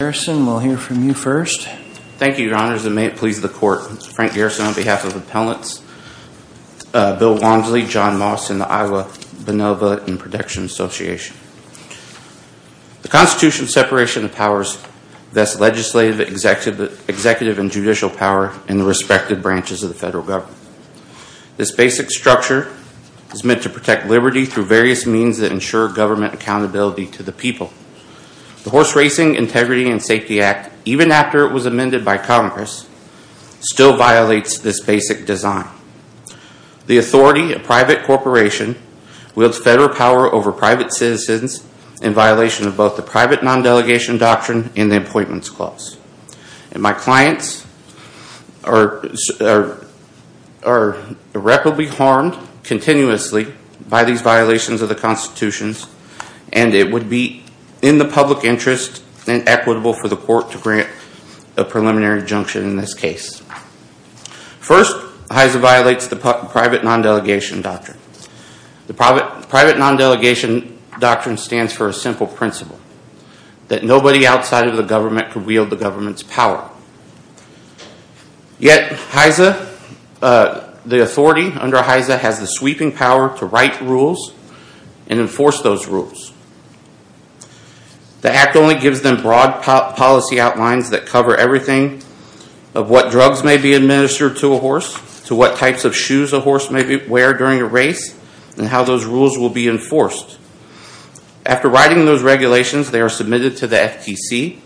The Constitution's separation of powers vests legislative, executive, and judicial power in the respective branches of the federal government. This basic structure is meant to protect liberty through various means that ensure government accountability to the people. The Horse Racing, Integrity, and Safety Act, even after it was amended by Congress, still violates this basic design. The authority of private corporations wields federal power over private citizens in violation of both the private non-delegation doctrine and the Employment Clause. My clients are irreparably harmed continuously by these violations of the Constitution and it would be in the public interest and equitable for the court to grant a preliminary injunction in this case. First HISA violates the private non-delegation doctrine. The private non-delegation doctrine stands for a simple principle that nobody outside of the government could wield the government's power. Yet HISA, the authority under HISA has the sweeping power to write rules and enforce those rules. The Act only gives them broad policy outlines that cover everything of what drugs may be administered to a horse, to what types of shoes a horse may wear during a race, and how those rules will be enforced. After writing those regulations, they are submitted to the FTC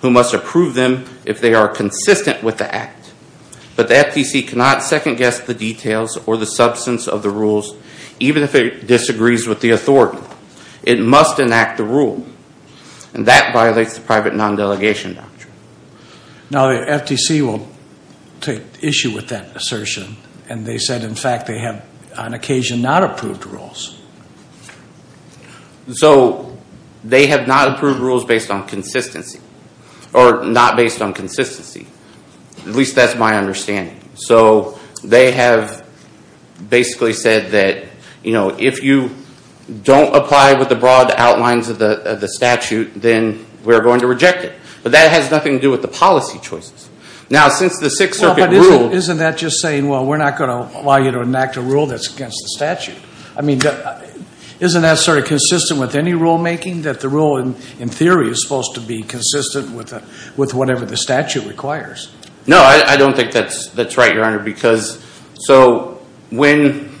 who must approve them if they are consistent with the Act. But the FTC cannot second guess the details or the substance of the rules even if it disagrees with the authority. It must enact the rule and that violates the private non-delegation doctrine. Now the FTC will take issue with that assertion and they said in fact they have on occasion not approved rules. So they have not approved rules based on consistency or not based on consistency. At least that's my understanding. So they have basically said that, you know, if you don't apply with the broad outlines of the statute, then we're going to reject it. But that has nothing to do with the policy choices. Now since the Sixth Circuit rule... Isn't that just saying, well, we're not going to allow you to enact a rule that's against the statute? I mean, isn't that sort of consistent with any rulemaking? That the rule in theory is supposed to be consistent with whatever the statute requires? No, I don't think that's right, Your Honor, because... So when,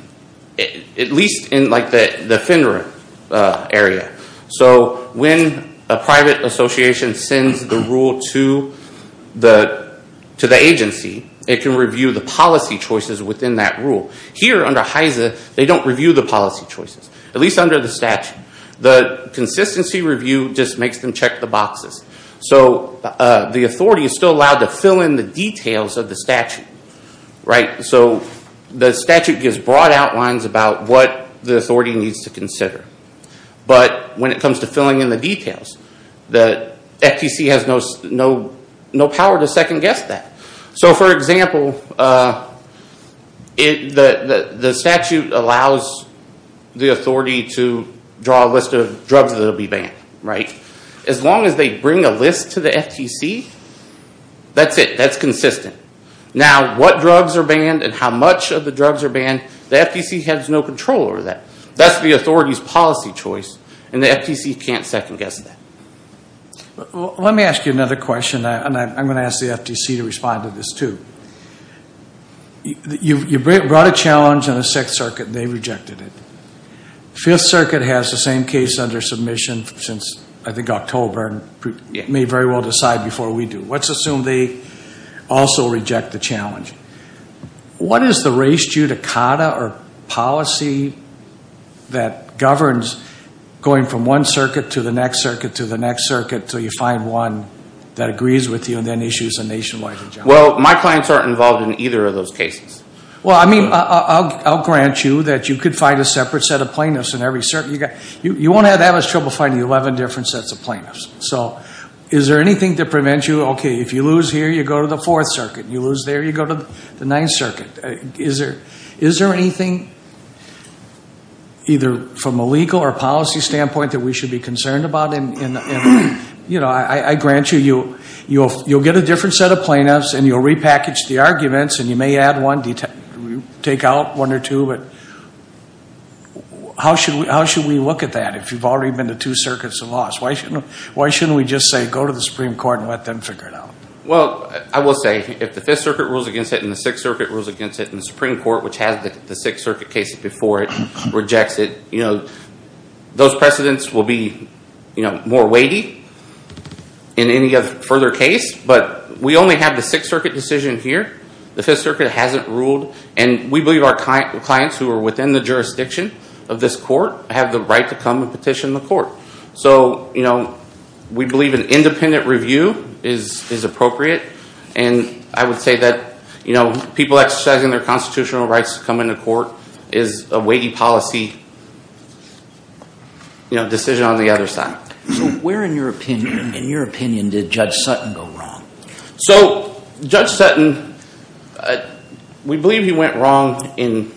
at least in like the FINRA area. So when a private association sends the rule to the agency, it can review the policy choices within that rule. Here under HISA, they don't review the policy choices, at least under the statute. The consistency review just makes them check the boxes. So the authority is still allowed to fill in the details of the statute, right? So the statute gives broad outlines about what the authority needs to consider. But when it comes to filling in the details, the FTC has no power to second guess that. So for example, the statute allows the authority to draw a list of drugs that will be banned. Right? As long as they bring a list to the FTC, that's it. That's consistent. Now, what drugs are banned and how much of the drugs are banned, the FTC has no control over that. That's the authority's policy choice, and the FTC can't second guess that. Let me ask you another question, and I'm going to ask the FTC to respond to this too. You brought a challenge in the Sixth Circuit, and they rejected it. Fifth Circuit has the same case under submission since, I think, October, and may very well decide before we do. Let's assume they also reject the challenge. What is the race, judicata, or policy that governs going from one circuit to the next circuit to the next circuit until you find one that agrees with you and then issues a nationwide injunction? Well, my clients aren't involved in either of those cases. Well, I mean, I'll grant you that you could find a separate set of plaintiffs in every circuit. You won't have as much trouble finding 11 different sets of plaintiffs. So is there anything to prevent you, okay, if you lose here, you go to the Fourth Circuit. You lose there, you go to the Ninth Circuit. Is there anything, either from a legal or policy standpoint, that we should be concerned about? And, you know, I grant you, you'll get a different set of plaintiffs, and you'll repackage the take out one or two, but how should we look at that if you've already been to two circuits and lost? Why shouldn't we just say, go to the Supreme Court and let them figure it out? Well, I will say, if the Fifth Circuit rules against it and the Sixth Circuit rules against it and the Supreme Court, which has the Sixth Circuit cases before it, rejects it, you know, those precedents will be, you know, more weighty in any further case. But we only have the Sixth Circuit decision here. The Fifth Circuit hasn't ruled, and we believe our clients who are within the jurisdiction of this court have the right to come and petition the court. So, you know, we believe an independent review is appropriate. And I would say that, you know, people exercising their constitutional rights to come into court is a weighty policy, you know, decision on the other side. So where, in your opinion, did Judge Sutton go wrong? So, Judge Sutton, we believe he went wrong in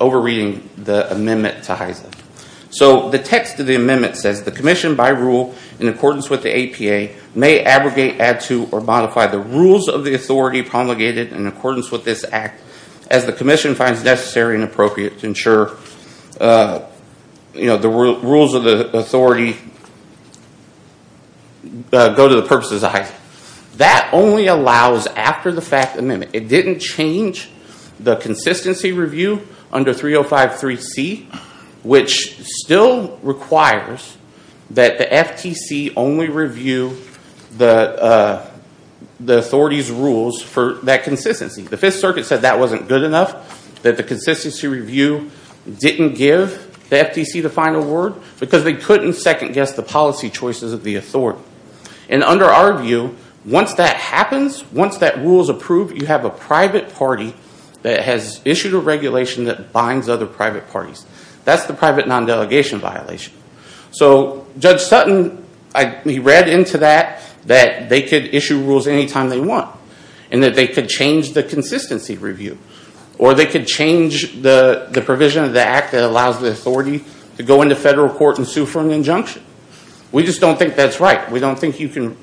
over-reading the amendment to HISA. So the text of the amendment says, the commission, by rule, in accordance with the APA, may abrogate, add to, or modify the rules of the authority promulgated in accordance with this act as the commission finds necessary and appropriate to ensure, you know, the rules of the authority may go to the purposes of HISA. That only allows after the fact amendment. It didn't change the consistency review under 3053C, which still requires that the FTC only review the authority's rules for that consistency. The Fifth Circuit said that wasn't good enough, that the consistency review didn't give the policy choices of the authority. And under our view, once that happens, once that rule is approved, you have a private party that has issued a regulation that binds other private parties. That's the private non-delegation violation. So Judge Sutton, he read into that that they could issue rules anytime they want, and that they could change the consistency review. Or they could change the provision of the act that allows the authority to go into federal court and sue for an injunction. We just don't think that's right. We don't think you can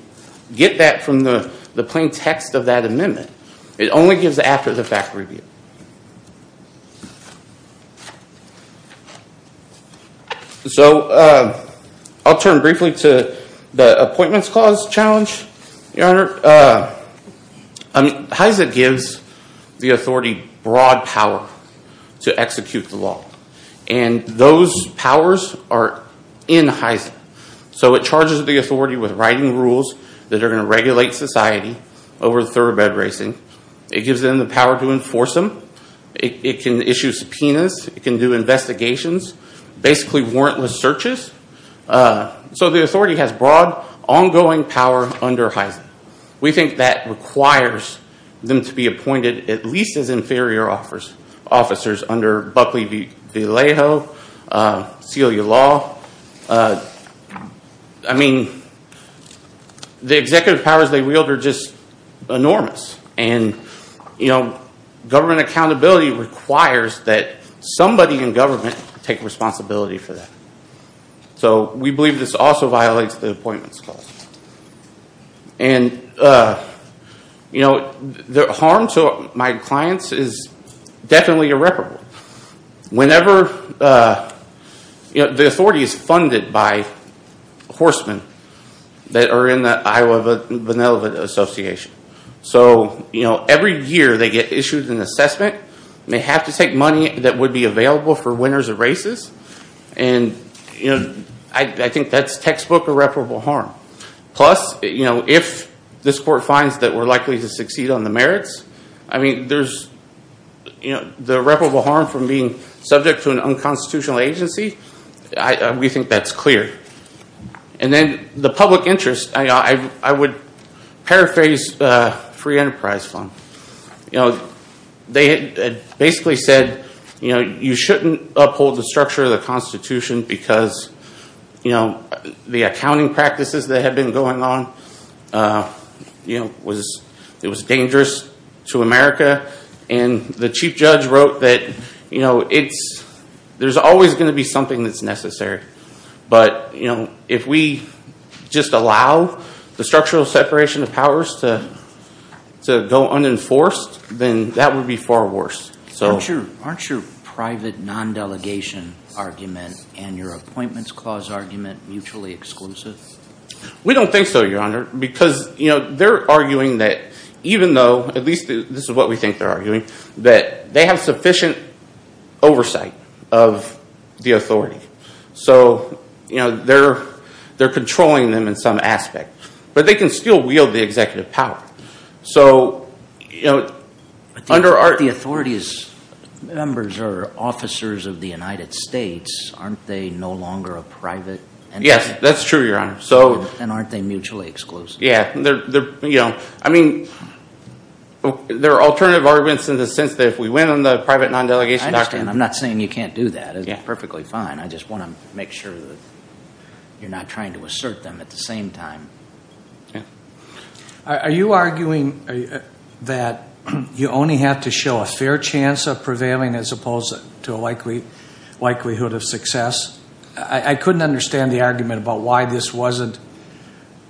get that from the plain text of that amendment. It only gives after the fact review. So I'll turn briefly to the appointments clause challenge, Your Honor. HISA gives the authority broad power to execute the law. And those powers are in HISA. So it charges the authority with writing rules that are going to regulate society over thoroughbred racing. It gives them the power to enforce them. It can issue subpoenas. It can do investigations, basically warrantless searches. So the authority has broad, ongoing power under HISA. We think that requires them to be appointed at least as inferior officers under Buckley v. Alejo, Celia Law. I mean, the executive powers they wield are just enormous. And government accountability requires that somebody in government take responsibility for that. So we believe this also violates the appointments clause. And the harm to my clients is definitely irreparable. Whenever the authority is funded by horsemen that are in the Iowa Vanellivet Association. So every year they get issued an assessment, and they have to take money that would be available for winners of races. And I think that's textbook irreparable harm. Plus, if this court finds that we're likely to succeed on the merits, I mean, the irreparable harm from being subject to an unconstitutional agency, we think that's clear. And then the public interest, I would paraphrase the Free Enterprise Fund. You know, they basically said, you know, you shouldn't uphold the structure of the Constitution because the accounting practices that have been going on, you know, it was dangerous to America. And the chief judge wrote that, you know, there's always going to be something that's necessary. But, you know, if we just allow the structural separation of powers to go unenforced, then that would be far worse. Aren't your private non-delegation argument and your appointments clause argument mutually exclusive? We don't think so, Your Honor, because, you know, they're arguing that even though, at least this is what we think they're arguing, that they have sufficient oversight of the authority. So, you know, they're controlling them in some aspect. But they can still wield the executive power. So, you know, under our- The authority's members are officers of the United States, aren't they no longer a private entity? Yes, that's true, Your Honor. So- And aren't they mutually exclusive? Yeah. You know, I mean, there are alternative arguments in the sense that if we went on the private non-delegation doctrine- I understand. I'm not saying you can't do that. It's perfectly fine. I just want to make sure that you're not trying to assert them at the same time. Are you arguing that you only have to show a fair chance of prevailing as opposed to a likelihood of success? I couldn't understand the argument about why this wasn't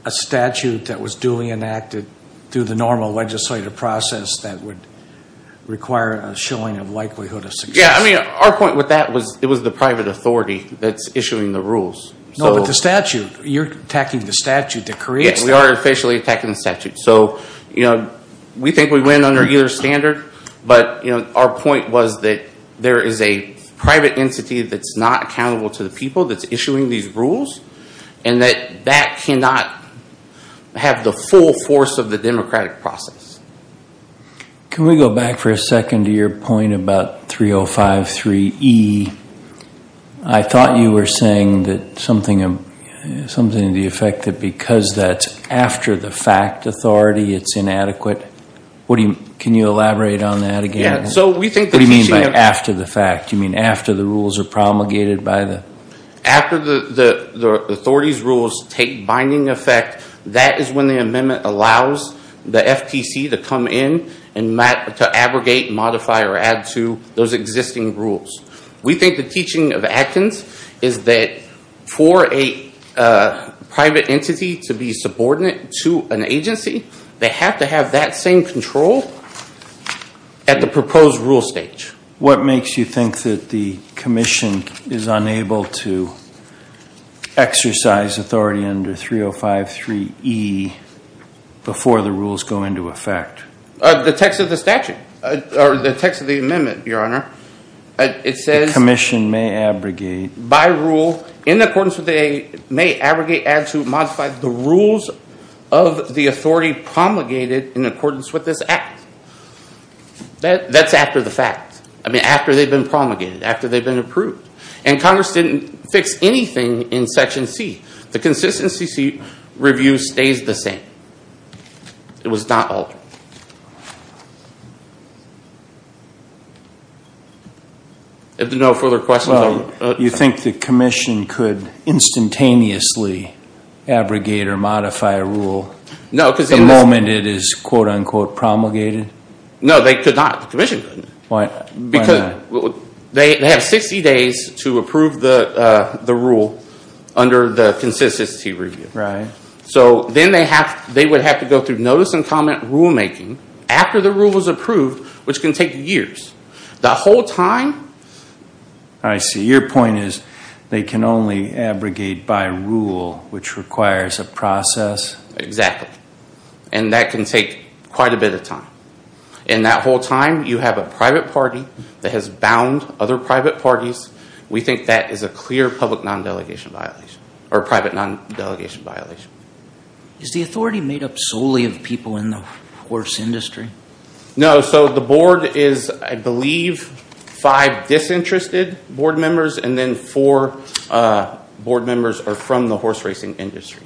a statute that was duly enacted through the normal legislative process that would require a showing of likelihood of success. Yeah, I mean, our point with that was it was the private authority that's issuing the rules. No, but the statute. You're attacking the statute that creates that. We are officially attacking the statute. So, you know, we think we win under either standard. But our point was that there is a private entity that's not accountable to the people that's issuing these rules and that that cannot have the full force of the democratic process. Can we go back for a second to your point about 3053E? I thought you were saying something to the effect that because that's after the fact authority it's inadequate. Can you elaborate on that again? So we think that- What do you mean by after the fact? Do you mean after the rules are promulgated by the- After the authority's rules take binding effect, that is when the amendment allows the FTC to come in and to abrogate, modify, or add to those existing rules. We think the teaching of Adkins is that for a private entity to be subordinate to an agency, they have to have that same control at the proposed rule stage. What makes you think that the commission is unable to exercise authority under 3053E before the rules go into effect? The text of the statute, or the text of the amendment, your honor. It says- The commission may abrogate- By rule, in accordance with the- May abrogate, add to, modify the rules of the authority promulgated in accordance with this act. That's after the fact. I mean, after they've been promulgated, after they've been approved. And Congress didn't fix anything in section C. The consistency review stays the same. It was not altered. If there are no further questions- You think the commission could instantaneously abrogate or modify a rule the moment it is quote unquote promulgated? No, they could not. The commission couldn't. Why not? They have 60 days to approve the rule under the consistency review. So then they would have to go through notice and comment rulemaking after the rule is approved, which can take years. The whole time- I see. Your point is they can only abrogate by rule, which requires a process- Exactly. And that can take quite a bit of time. And that whole time, you have a private party that has bound other private parties. We think that is a clear public non-delegation violation, or private non-delegation violation. Is the authority made up solely of people in the horse industry? No. So the board is, I believe, five disinterested board members, and then four board members are from the horse racing industry.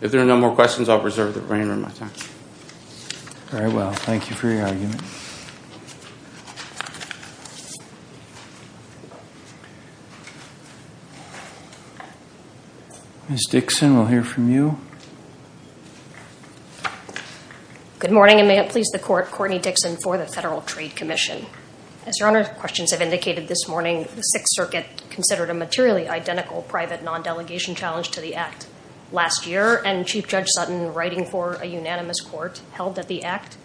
If there are no more questions, I'll reserve the rein in my time. Very well. Thank you for your argument. Ms. Dixon, we'll hear from you. Good morning, and may it please the court. Courtney Dixon for the Federal Trade Commission. As your Honor's questions have indicated this morning, the Sixth Circuit considered a materially identical private non-delegation challenge to the Act. Last year, and Chief Judge Sutton writing for a unanimous court, held that the Act,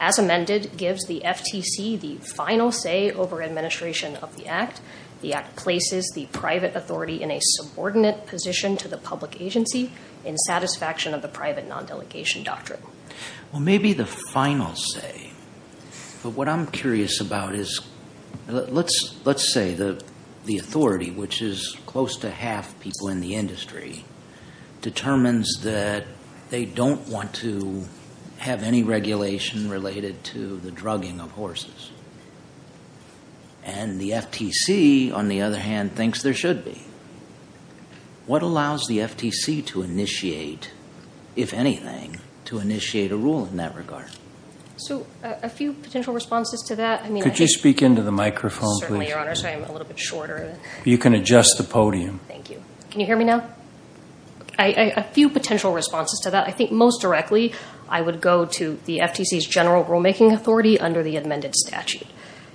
as amended, gives the FTC the final say over administration of the Act. The Act places the private authority in a subordinate position to the public agency in satisfaction of the private non-delegation doctrine. Well, maybe the final say, but what I'm curious about is, let's say the authority, which is close to half people in the industry, determines that they don't want to have any regulation related to the drugging of horses, and the FTC, on the other hand, thinks there should be. What allows the FTC to initiate, if anything, to initiate a rule in that regard? So a few potential responses to that. Could you speak into the microphone, please? Certainly, Your Honor. Sorry, I'm a little bit shorter. You can adjust the podium. Thank you. Can you hear me now? A few potential responses to that. I think most directly, I would go to the FTC's general rulemaking authority under the amended statute.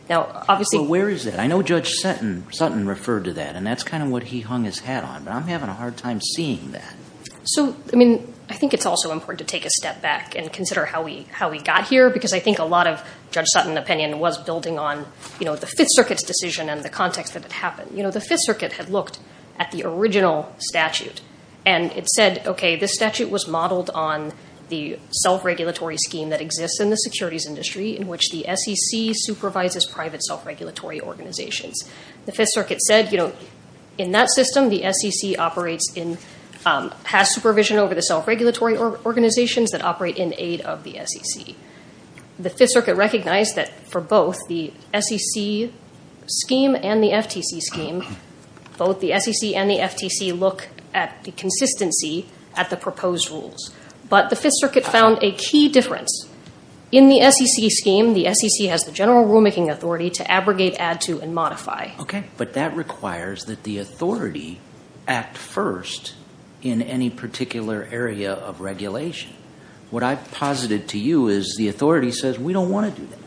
Now, obviously- So where is it? I know Judge Sutton referred to that, and that's kind of what he hung his hat on, but I'm having a hard time seeing that. So I mean, I think it's also important to take a step back and consider how we got here, because I think a lot of Judge Sutton opinion was building on the Fifth Circuit's decision and the context that it happened. The Fifth Circuit had looked at the original statute, and it said, OK, this statute was modeled on the self-regulatory scheme that exists in the securities industry, in which the SEC supervises private self-regulatory organizations. The Fifth Circuit said, you know, in that system, the SEC operates in- has supervision over the self-regulatory organizations that operate in aid of the SEC. The Fifth Circuit recognized that for both the SEC scheme and the FTC scheme, both the SEC and the FTC look at the consistency at the proposed rules. But the Fifth Circuit found a key difference. In the SEC scheme, the SEC has the general rulemaking authority to abrogate, add to, and modify. OK. But that requires that the authority act first in any particular area of regulation. What I've posited to you is the authority says, we don't want to do that.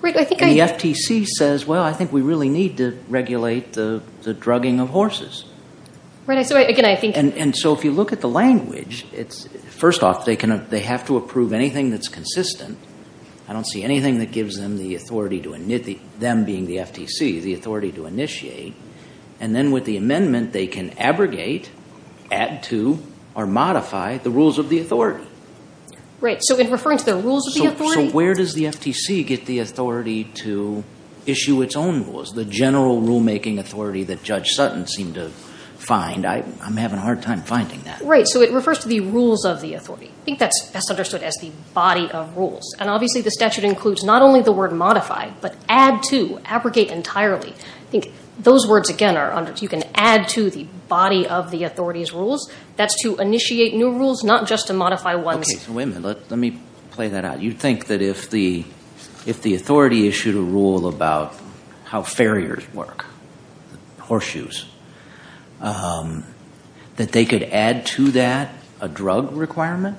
Right. I think I- And the FTC says, well, I think we really need to regulate the drugging of horses. Right. So again, I think- And so if you look at the language, it's- first off, they can- they have to approve anything that's consistent. I don't see anything that gives them the authority to init- them being the FTC, the authority to initiate. And then with the amendment, they can abrogate, add to, or modify the rules of the authority. Right. So in referring to the rules of the authority- So where does the FTC get the authority to issue its own rules, the general rulemaking authority that Judge Sutton seemed to find? I'm having a hard time finding that. Right. So it refers to the rules of the authority. I think that's best understood as the body of rules. And obviously, the statute includes not only the word modify, but add to, abrogate entirely. I think those words, again, are under- you can add to the body of the authority's rules. That's to initiate new rules, not just to modify ones. Okay. So wait a minute. Let me play that out. You think that if the authority issued a rule about how farriers work, horseshoes, that they could add to that a drug requirement?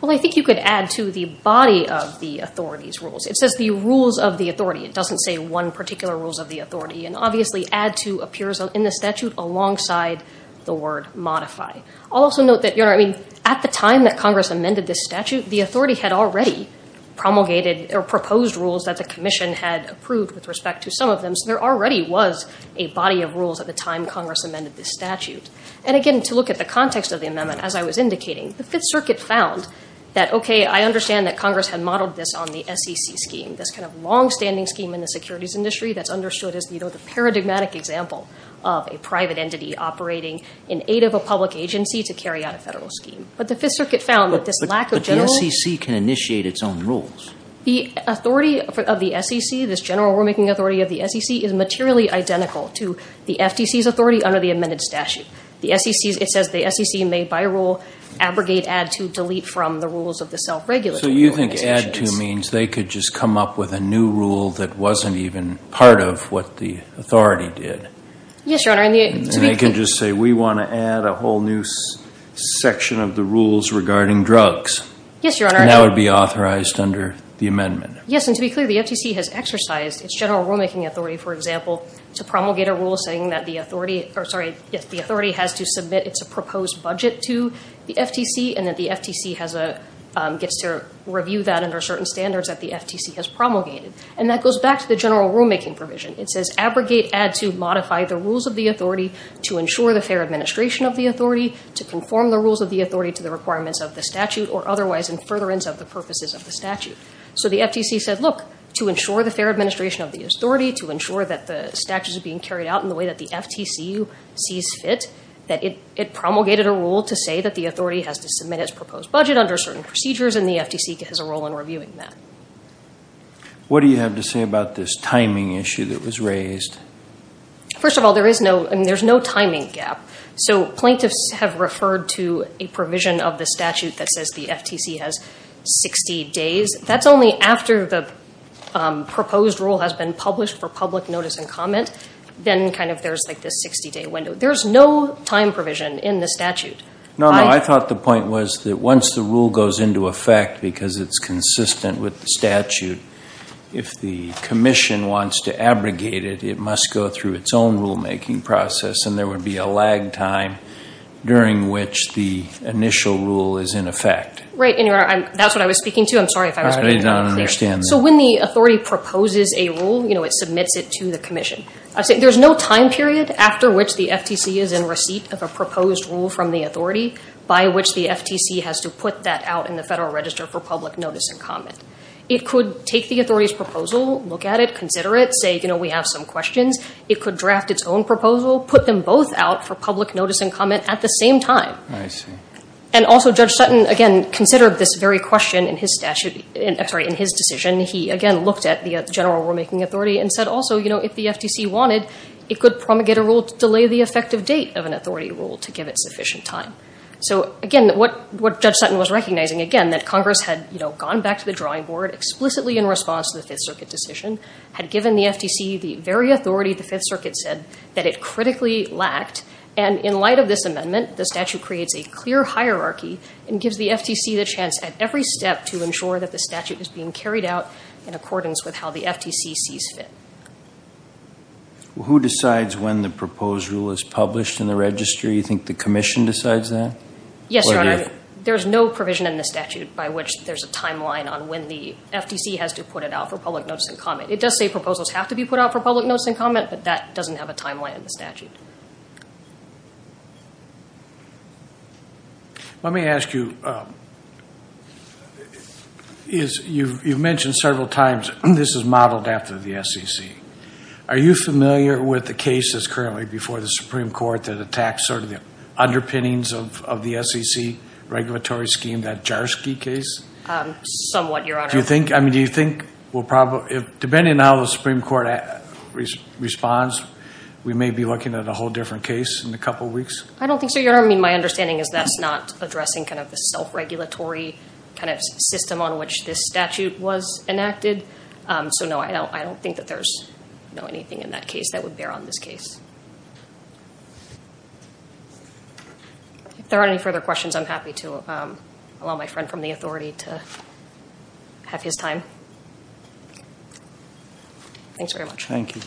Well, I think you could add to the body of the authority's rules. It says the rules of the authority. It doesn't say one particular rules of the authority. And obviously, add to appears in the statute alongside the word modify. I'll also note that, you know, I mean, at the time that Congress amended this statute, the authority had already promulgated or proposed rules that the commission had approved with respect to some of them. There already was a body of rules at the time Congress amended this statute. And again, to look at the context of the amendment, as I was indicating, the Fifth Circuit found that, okay, I understand that Congress had modeled this on the SEC scheme, this kind of longstanding scheme in the securities industry that's understood as, you know, the paradigmatic example of a private entity operating in aid of a public agency to carry out a federal scheme. But the Fifth Circuit found that this lack of general- But the SEC can initiate its own rules. The authority of the SEC, this general rulemaking authority of the SEC, is materially identical to the FTC's authority under the amended statute. The SEC's, it says the SEC may by rule abrogate, add to, delete from the rules of the self-regulatory regulations. So you think add to means they could just come up with a new rule that wasn't even part of what the authority did? Yes, Your Honor. And they can just say, we want to add a whole new section of the rules regarding drugs. Yes, Your Honor. And that would be authorized under the amendment? Yes. And to be clear, the FTC has exercised its general rulemaking authority, for example, to promulgate a rule saying that the authority, or sorry, the authority has to submit its proposed budget to the FTC and that the FTC has a, gets to review that under certain standards that the FTC has promulgated. And that goes back to the general rulemaking provision. It says abrogate, add to, modify the rules of the authority to ensure the fair administration of the authority, to conform the rules of the authority to the requirements of the statute or otherwise in furtherance of the purposes of the statute. So the FTC said, look, to ensure the fair administration of the authority, to ensure that the statutes are being carried out in the way that the FTC sees fit, that it promulgated a rule to say that the authority has to submit its proposed budget under certain procedures and the FTC has a role in reviewing that. What do you have to say about this timing issue that was raised? First of all, there is no, I mean, there's no timing gap. So plaintiffs have referred to a provision of the statute that says the FTC has 60 days. That's only after the proposed rule has been published for public notice and comment. Then kind of there's like this 60 day window. There's no time provision in the statute. No, no. I thought the point was that once the rule goes into effect, because it's consistent with the statute, if the commission wants to abrogate it, it must go through its own rulemaking process and there would be a lag time during which the initial rule is in effect. Right. That's what I was speaking to. I'm sorry if I was being unclear. I did not understand that. So when the authority proposes a rule, you know, it submits it to the commission. There's no time period after which the FTC is in receipt of a proposed rule from the authority by which the FTC has to put that out in the Federal Register for public notice and comment. It could take the authority's proposal, look at it, consider it, say, you know, we have some questions. It could draft its own proposal, put them both out for public notice and comment at the same time. I see. And also, Judge Sutton, again, considered this very question in his statute, I'm sorry, in his decision. He, again, looked at the general rulemaking authority and said also, you know, if the FTC wanted, it could promulgate a rule to delay the effective date of an authority rule to give it sufficient time. So again, what Judge Sutton was recognizing, again, that Congress had, you know, gone back to the drawing board explicitly in response to the Fifth Circuit decision, had given the authority the Fifth Circuit said that it critically lacked. And in light of this amendment, the statute creates a clear hierarchy and gives the FTC the chance at every step to ensure that the statute is being carried out in accordance with how the FTC sees fit. Who decides when the proposed rule is published in the Register? You think the Commission decides that? Yes, Your Honor. There's no provision in the statute by which there's a timeline on when the FTC has to put it out for public notice and comment. It does say proposals have to be put out for public notice and comment, but that doesn't have a timeline in the statute. Let me ask you, you've mentioned several times this is modeled after the SEC. Are you familiar with the case that's currently before the Supreme Court that attacks sort of the underpinnings of the SEC regulatory scheme, that Jarsky case? Somewhat, Your Honor. Do you think, depending on how the Supreme Court responds, we may be looking at a whole different case in a couple of weeks? I don't think so, Your Honor. I mean, my understanding is that's not addressing kind of the self-regulatory kind of system on which this statute was enacted. So no, I don't think that there's anything in that case that would bear on this case. If there aren't any further questions, I'm happy to allow my friend from the authority to have his time. Thanks very much. Thank you.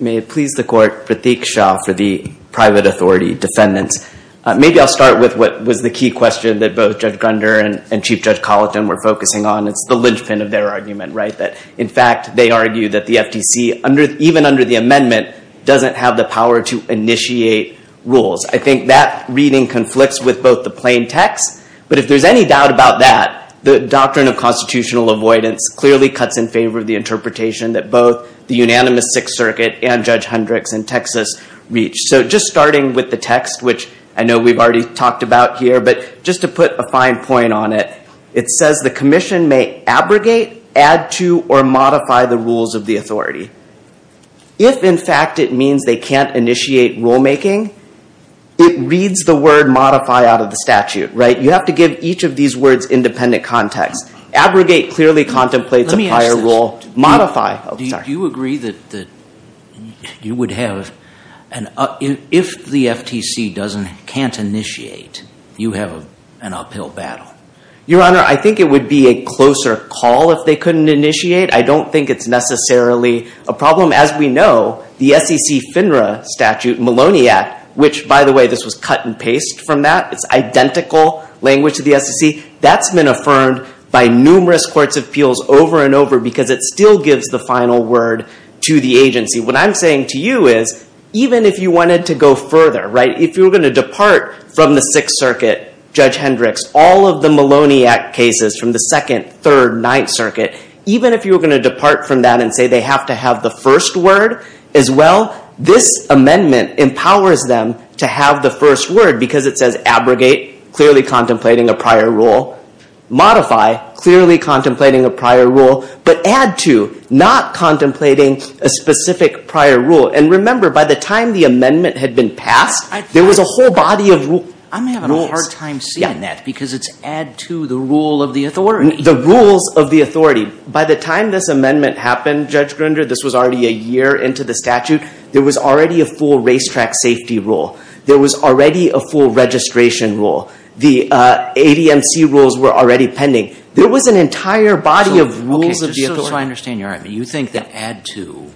May it please the Court, Prateek Shah for the private authority defendants. Maybe I'll start with what was the key question that both Judge Grunder and Chief Judge Colleton were focusing on. It's the linchpin of their argument, right? In fact, they argue that the FTC, even under the amendment, doesn't have the power to initiate rules. I think that reading conflicts with both the plain text. But if there's any doubt about that, the doctrine of constitutional avoidance clearly cuts in favor of the interpretation that both the unanimous Sixth Circuit and Judge Hendricks in Texas reach. So just starting with the text, which I know we've already talked about here, but just to put a fine point on it, it says the commission may abrogate, add to, or modify the rules of the authority. If, in fact, it means they can't initiate rulemaking, it reads the word modify out of the statute, right? You have to give each of these words independent context. Abrogate clearly contemplates a prior rule. Modify. Do you agree that you would have, if the FTC can't initiate, you have an uphill battle? Your Honor, I think it would be a closer call if they couldn't initiate. I don't think it's necessarily a problem. As we know, the SEC FINRA statute, Maloney Act, which, by the way, this was cut and paste from that. It's identical language to the SEC. That's been affirmed by numerous courts of appeals over and over because it still gives the final word to the agency. What I'm saying to you is, even if you wanted to go further, right? If you were going to depart from the Sixth Circuit, Judge Hendricks, all of the Maloney Act cases from the Second, Third, Ninth Circuit, even if you were going to depart from that and say they have to have the first word as well, this amendment empowers them to have the first word because it says abrogate, clearly contemplating a prior rule, modify, clearly contemplating a prior rule, but add to, not contemplating a specific prior rule. And remember, by the time the amendment had been passed, there was a whole body of rules. I'm having a hard time seeing that because it's add to the rule of the authority. The rules of the authority. By the time this amendment happened, Judge Grinder, this was already a year into the statute. There was already a full racetrack safety rule. There was already a full registration rule. The ADMC rules were already pending. There was an entire body of rules of the authority. Okay, so just so I understand you, you think that add to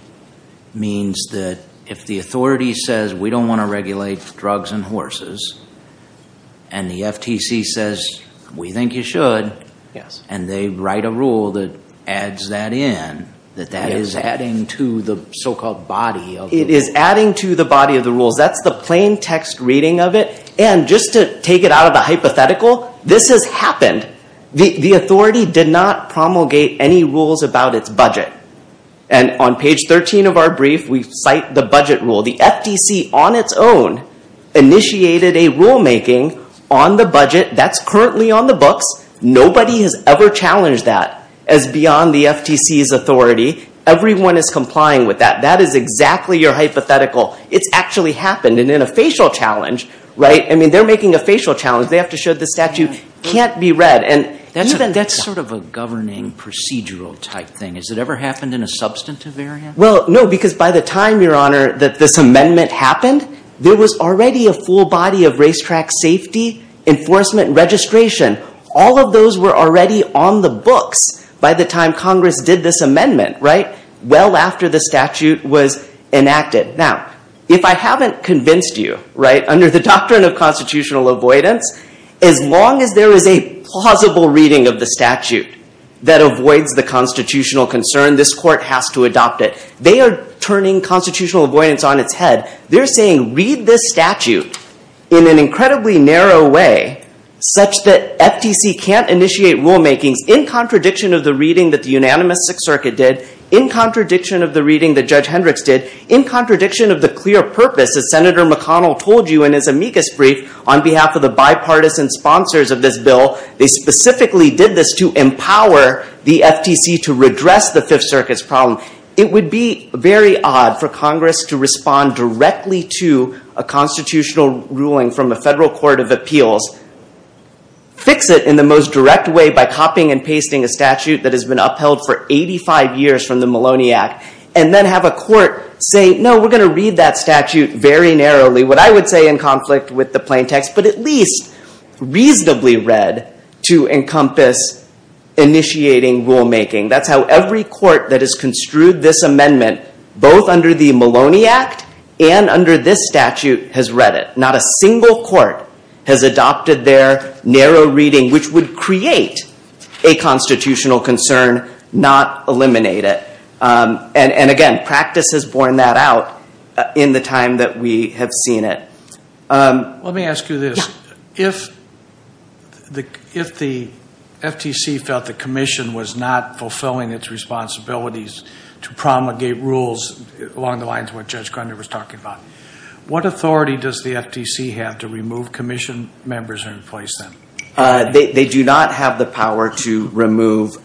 means that if the authority says we don't want to regulate drugs and horses and the FTC says we think you should and they write a rule that adds that in, that that is adding to the so-called body of the rules. It is adding to the body of the rules. That's the plain text reading of it. And just to take it out of the hypothetical, this has happened. The authority did not promulgate any rules about its budget. And on page 13 of our brief, we cite the budget rule. The FTC on its own initiated a rulemaking on the budget that's currently on the books. Nobody has ever challenged that as beyond the FTC's authority. Everyone is complying with that. That is exactly your hypothetical. It's actually happened. And in a facial challenge, right, I mean, they're making a facial challenge. They have to show the statute can't be read. That's sort of a governing procedural type thing. Has it ever happened in a substantive area? Well, no, because by the time, Your Honor, that this amendment happened, there was already a full body of racetrack safety, enforcement, registration. All of those were already on the books by the time Congress did this amendment, right? Well after the statute was enacted. Now, if I haven't convinced you, right, under the doctrine of constitutional avoidance, as long as there is a plausible reading of the statute that avoids the constitutional concern, this court has to adopt it. They are turning constitutional avoidance on its head. They're saying, read this statute in an incredibly narrow way such that FTC can't initiate rulemakings in contradiction of the reading that the unanimous Sixth Circuit did, in contradiction of the reading that Judge Hendricks did, in contradiction of the clear purpose that Senator McConnell told you in his amicus brief on behalf of the bipartisan sponsors of this bill. They specifically did this to empower the FTC to redress the Fifth Circuit's problem. It would be very odd for Congress to respond directly to a constitutional ruling from a federal court of appeals, fix it in the most direct way by copying and pasting a statute that has been upheld for 85 years from the Maloney Act, and then have a court say, no, we're going to read that statute very narrowly, what I would say in conflict with the plain text, but at least reasonably read to encompass initiating rulemaking. That's how every court that has construed this amendment, both under the Maloney Act and under this statute, has read it. Not a single court has adopted their narrow reading, which would create a constitutional concern, not eliminate it. And again, practice has borne that out in the time that we have seen it. Let me ask you this. If the FTC felt the commission was not fulfilling its responsibilities to promulgate rules along the lines of what Judge Grundy was talking about, what authority does the FTC have to remove commission members in place then? They do not have the power to remove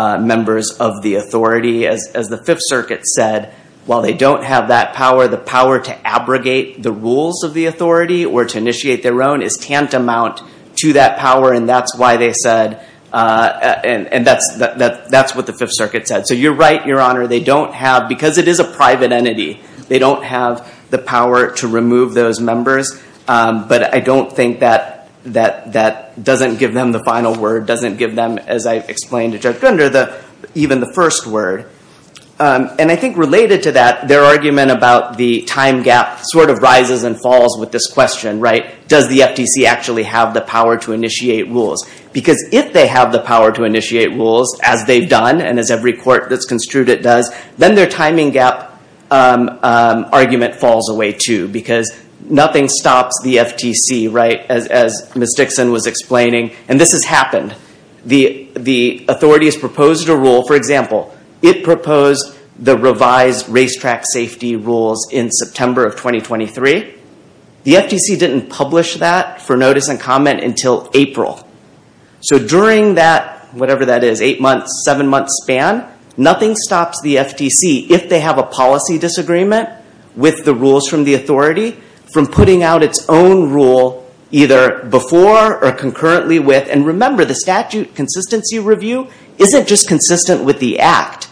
members of the authority as the Fifth Circuit said. While they don't have that power, the power to abrogate the rules of the authority or to initiate their own is tantamount to that power, and that's why they said, and that's what the Fifth Circuit said. So you're right, Your Honor, they don't have, because it is a private entity, they don't have the power to remove those members. But I don't think that doesn't give them the final word, doesn't give them, as I explained to Judge Grundy, even the first word. And I think related to that, their argument about the time gap sort of rises and falls with this question, does the FTC actually have the power to initiate rules? Because if they have the power to initiate rules, as they've done, and as every court that's construed it does, then their timing gap argument falls away too, because nothing stops the FTC, as Ms. Dixon was explaining. And this has happened. The authorities proposed a rule, for example, it proposed the revised racetrack safety rules in September of 2023. The FTC didn't publish that for notice and comment until April. So during that, whatever that is, eight months, seven months span, nothing stops the FTC, if they have a policy disagreement with the rules from the authority, from putting out its own rule either before or concurrently with, and remember, the statute consistency review isn't just consistent with the act.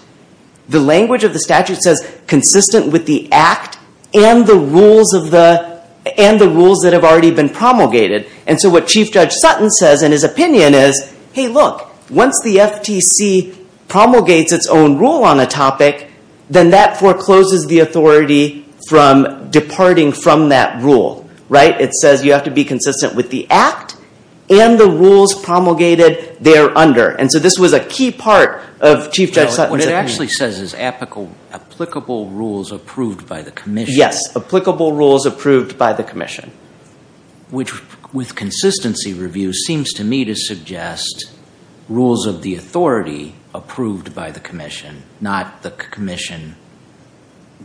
The language of the statute says consistent with the act and the rules that have already been promulgated. And so what Chief Judge Sutton says in his opinion is, hey, look, once the FTC promulgates its own rule on a topic, then that forecloses the authority from departing from that rule, right? It says you have to be consistent with the act and the rules promulgated there under. And so this was a key part of Chief Judge Sutton's opinion. What it actually says is applicable rules approved by the commission. Yes, applicable rules approved by the commission. Which, with consistency review, seems to me to suggest rules of the authority approved by the commission, not the commission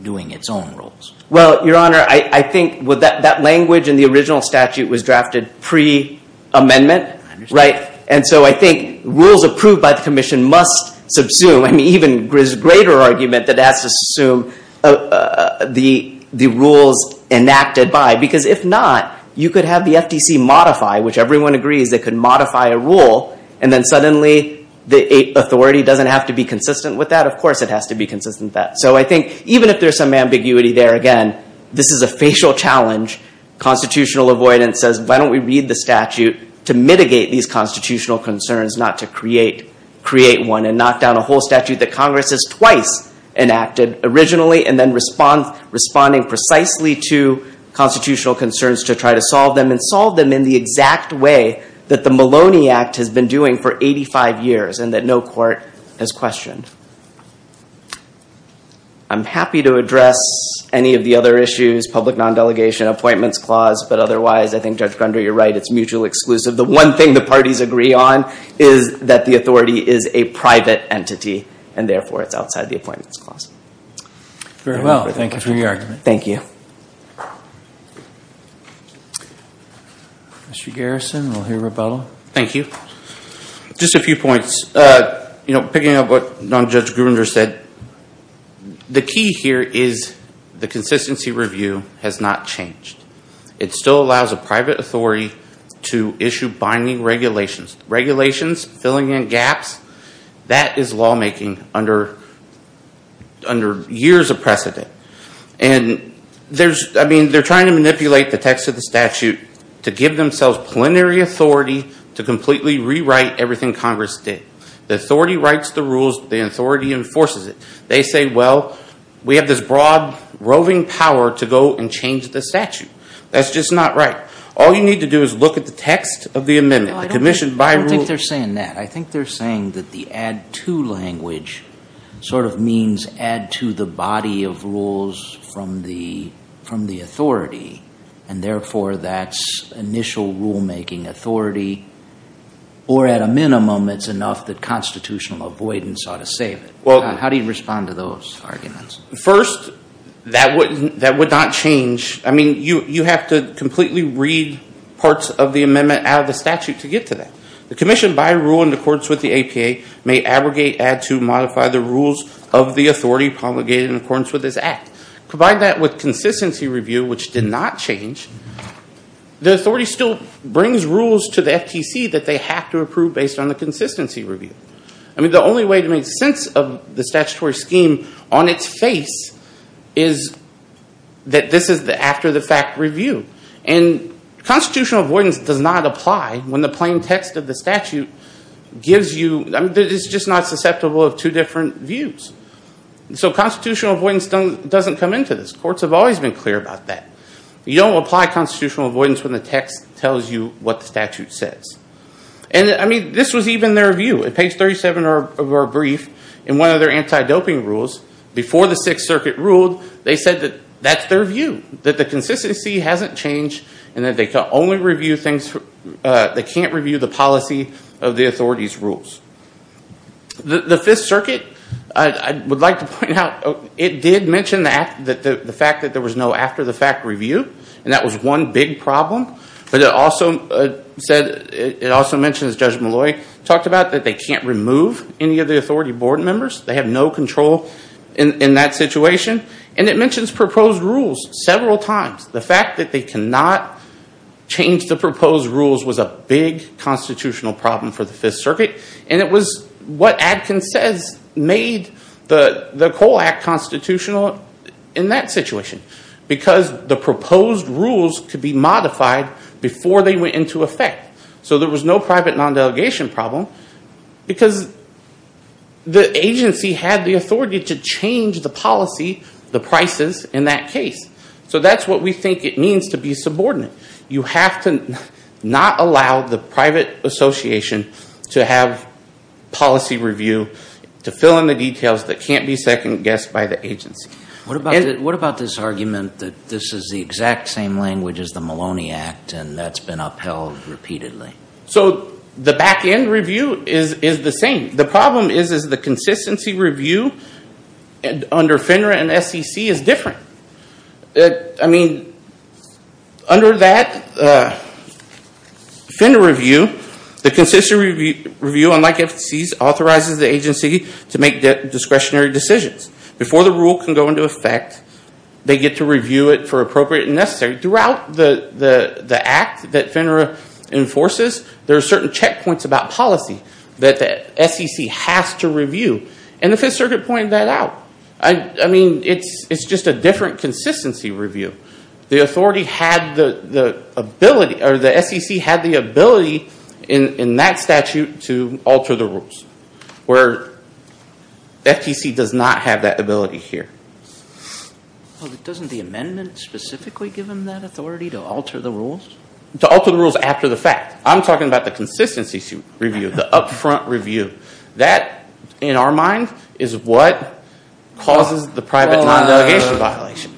doing its own rules. Well, Your Honor, I think that language in the original statute was drafted pre-amendment, right? And so I think rules approved by the commission must subsume. I mean, even greater argument that it has to subsume the rules enacted by. Because if not, you could have the FTC modify, which everyone agrees it could modify a rule, and then suddenly the authority doesn't have to be consistent with that. Of course it has to be consistent with that. So I think even if there's some ambiguity there, again, this is a facial challenge. Constitutional avoidance says, why don't we read the statute to mitigate these constitutional concerns, not to create one and knock down a whole statute that Congress has twice enacted originally, and then responding precisely to constitutional concerns to try to solve them, and solve them in the exact way that the Maloney Act has been doing for 85 years, and that no court has questioned. I'm happy to address any of the other issues, public non-delegation, appointments clause, but otherwise, I think Judge Grunder, you're right, it's mutually exclusive. The one thing the parties agree on is that the authority is a private entity, and therefore it's outside the appointments clause. Very well. Thank you for your argument. Thank you. Mr. Garrison, we'll hear rebuttal. Thank you. Just a few points. Picking up what Judge Grunder said, the key here is the consistency review has not changed. It still allows a private authority to issue binding regulations. Regulations, filling in gaps, that is lawmaking under years of precedent. And they're trying to manipulate the text of the statute to give themselves plenary authority to completely rewrite everything Congress did. The authority writes the rules. The authority enforces it. They say, well, we have this broad roving power to go and change the statute. That's just not right. All you need to do is look at the text of the amendment, the commission by rule. I don't think they're saying that. I think they're saying that the add to language sort of means add to the body of rules from the authority, and therefore that's initial rulemaking authority. Or at a minimum, it's enough that constitutional avoidance ought to save it. How do you respond to those arguments? First, that would not change. I mean, you have to completely read parts of the amendment out of the statute to get to that. The commission by rule in accordance with the APA may abrogate, add to, modify the rules of the authority promulgated in accordance with this act. Provide that with consistency review, which did not change, the authority still brings rules to the FTC that they have to approve based on the consistency review. I mean, the only way to make sense of the statutory scheme on its face is that this is the after the fact review. And constitutional avoidance does not apply when the plain text of the statute gives you, I mean, it's just not susceptible of two different views. So constitutional avoidance doesn't come into this. Courts have always been clear about that. You don't apply constitutional avoidance when the text tells you what the statute says. And I mean, this was even their view. At page 37 of our brief, in one of their anti-doping rules, before the Sixth Circuit ruled, they said that that's their view, that the consistency hasn't changed, and that they can't review the policy of the authority's rules. The Fifth Circuit, I would like to point out, it did mention the fact that there was no after the fact review, and that was one big problem. But it also said, it also mentioned, as Judge Malloy talked about, that they can't remove any of the authority board members. They have no control in that situation. And it mentions proposed rules several times. The fact that they cannot change the proposed rules was a big constitutional problem for the Fifth Circuit. And it was what Adkins says made the COLE Act constitutional in that situation, because the proposed rules could be modified before they went into effect. So there was no private non-delegation problem, because the agency had the authority to change the policy, the prices in that case. So that's what we think it means to be subordinate. You have to not allow the private association to have policy review, to fill in the details that can't be second-guessed by the agency. What about this argument that this is the exact same language as the Maloney Act, and that's been upheld repeatedly? So the back-end review is the same. The problem is, is the consistency review under FINRA and SEC is different. I mean, under that FINRA review, the consistency review, unlike FCC's, authorizes the agency to make discretionary decisions. Before the rule can go into effect, they get to review it for appropriate and necessary. Throughout the act that FINRA enforces, there are certain checkpoints about policy that the SEC has to review. And the Fifth Circuit pointed that out. I mean, it's just a different consistency review. The SEC had the ability in that statute to alter the rules, where FCC does not have that ability here. Well, doesn't the amendment specifically give them that authority to alter the rules? To alter the rules after the fact. I'm talking about the consistency review, the upfront review. That, in our mind, is what causes the private non-delegation violation.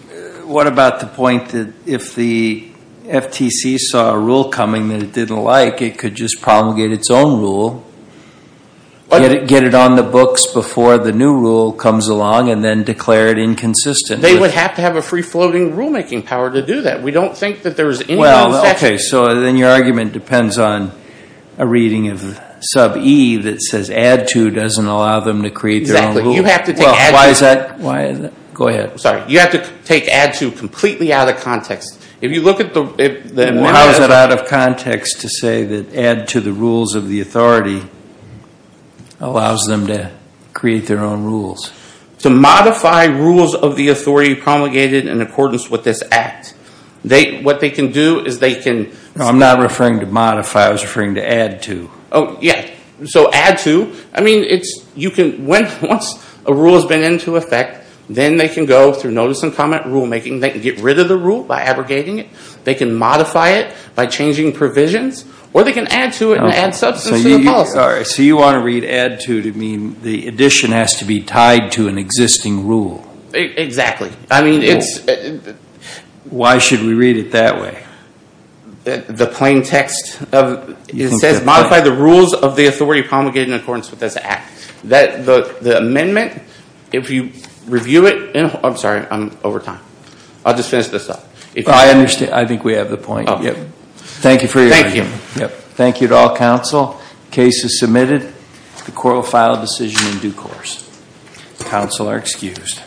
What about the point that if the FTC saw a rule coming that it didn't like, it could just promulgate its own rule, get it on the books before the new rule comes along, and then declare it inconsistent? They would have to have a free-floating rule-making power to do that. We don't think that there's any concession. So then your argument depends on a reading of sub-E that says, add to doesn't allow them to create their own rule? Exactly. You have to take add to. Why is that? Go ahead. You have to take add to completely out of context. How is it out of context to say that add to the rules of the authority allows them to create their own rules? To modify rules of the authority promulgated in accordance with this act. What they can do is they can- No, I'm not referring to modify. I was referring to add to. Oh, yeah. So add to, I mean, once a rule has been into effect, then they can go through notice and comment rule-making. They can get rid of the rule by abrogating it. They can modify it by changing provisions, or they can add to it and add substance to the policy. So you want to read add to to mean the addition has to be tied to an existing rule? Exactly. I mean, it's- Why should we read it that way? The plain text of it says, modify the rules of the authority promulgated in accordance with this act. That, the amendment, if you review it in- I'm sorry, I'm over time. I'll just finish this up. Well, I understand. I think we have the point. Oh, yeah. Thank you for your- Thank you. Thank you to all counsel. Case is submitted. The court will file a decision in due course. Counsel are excused.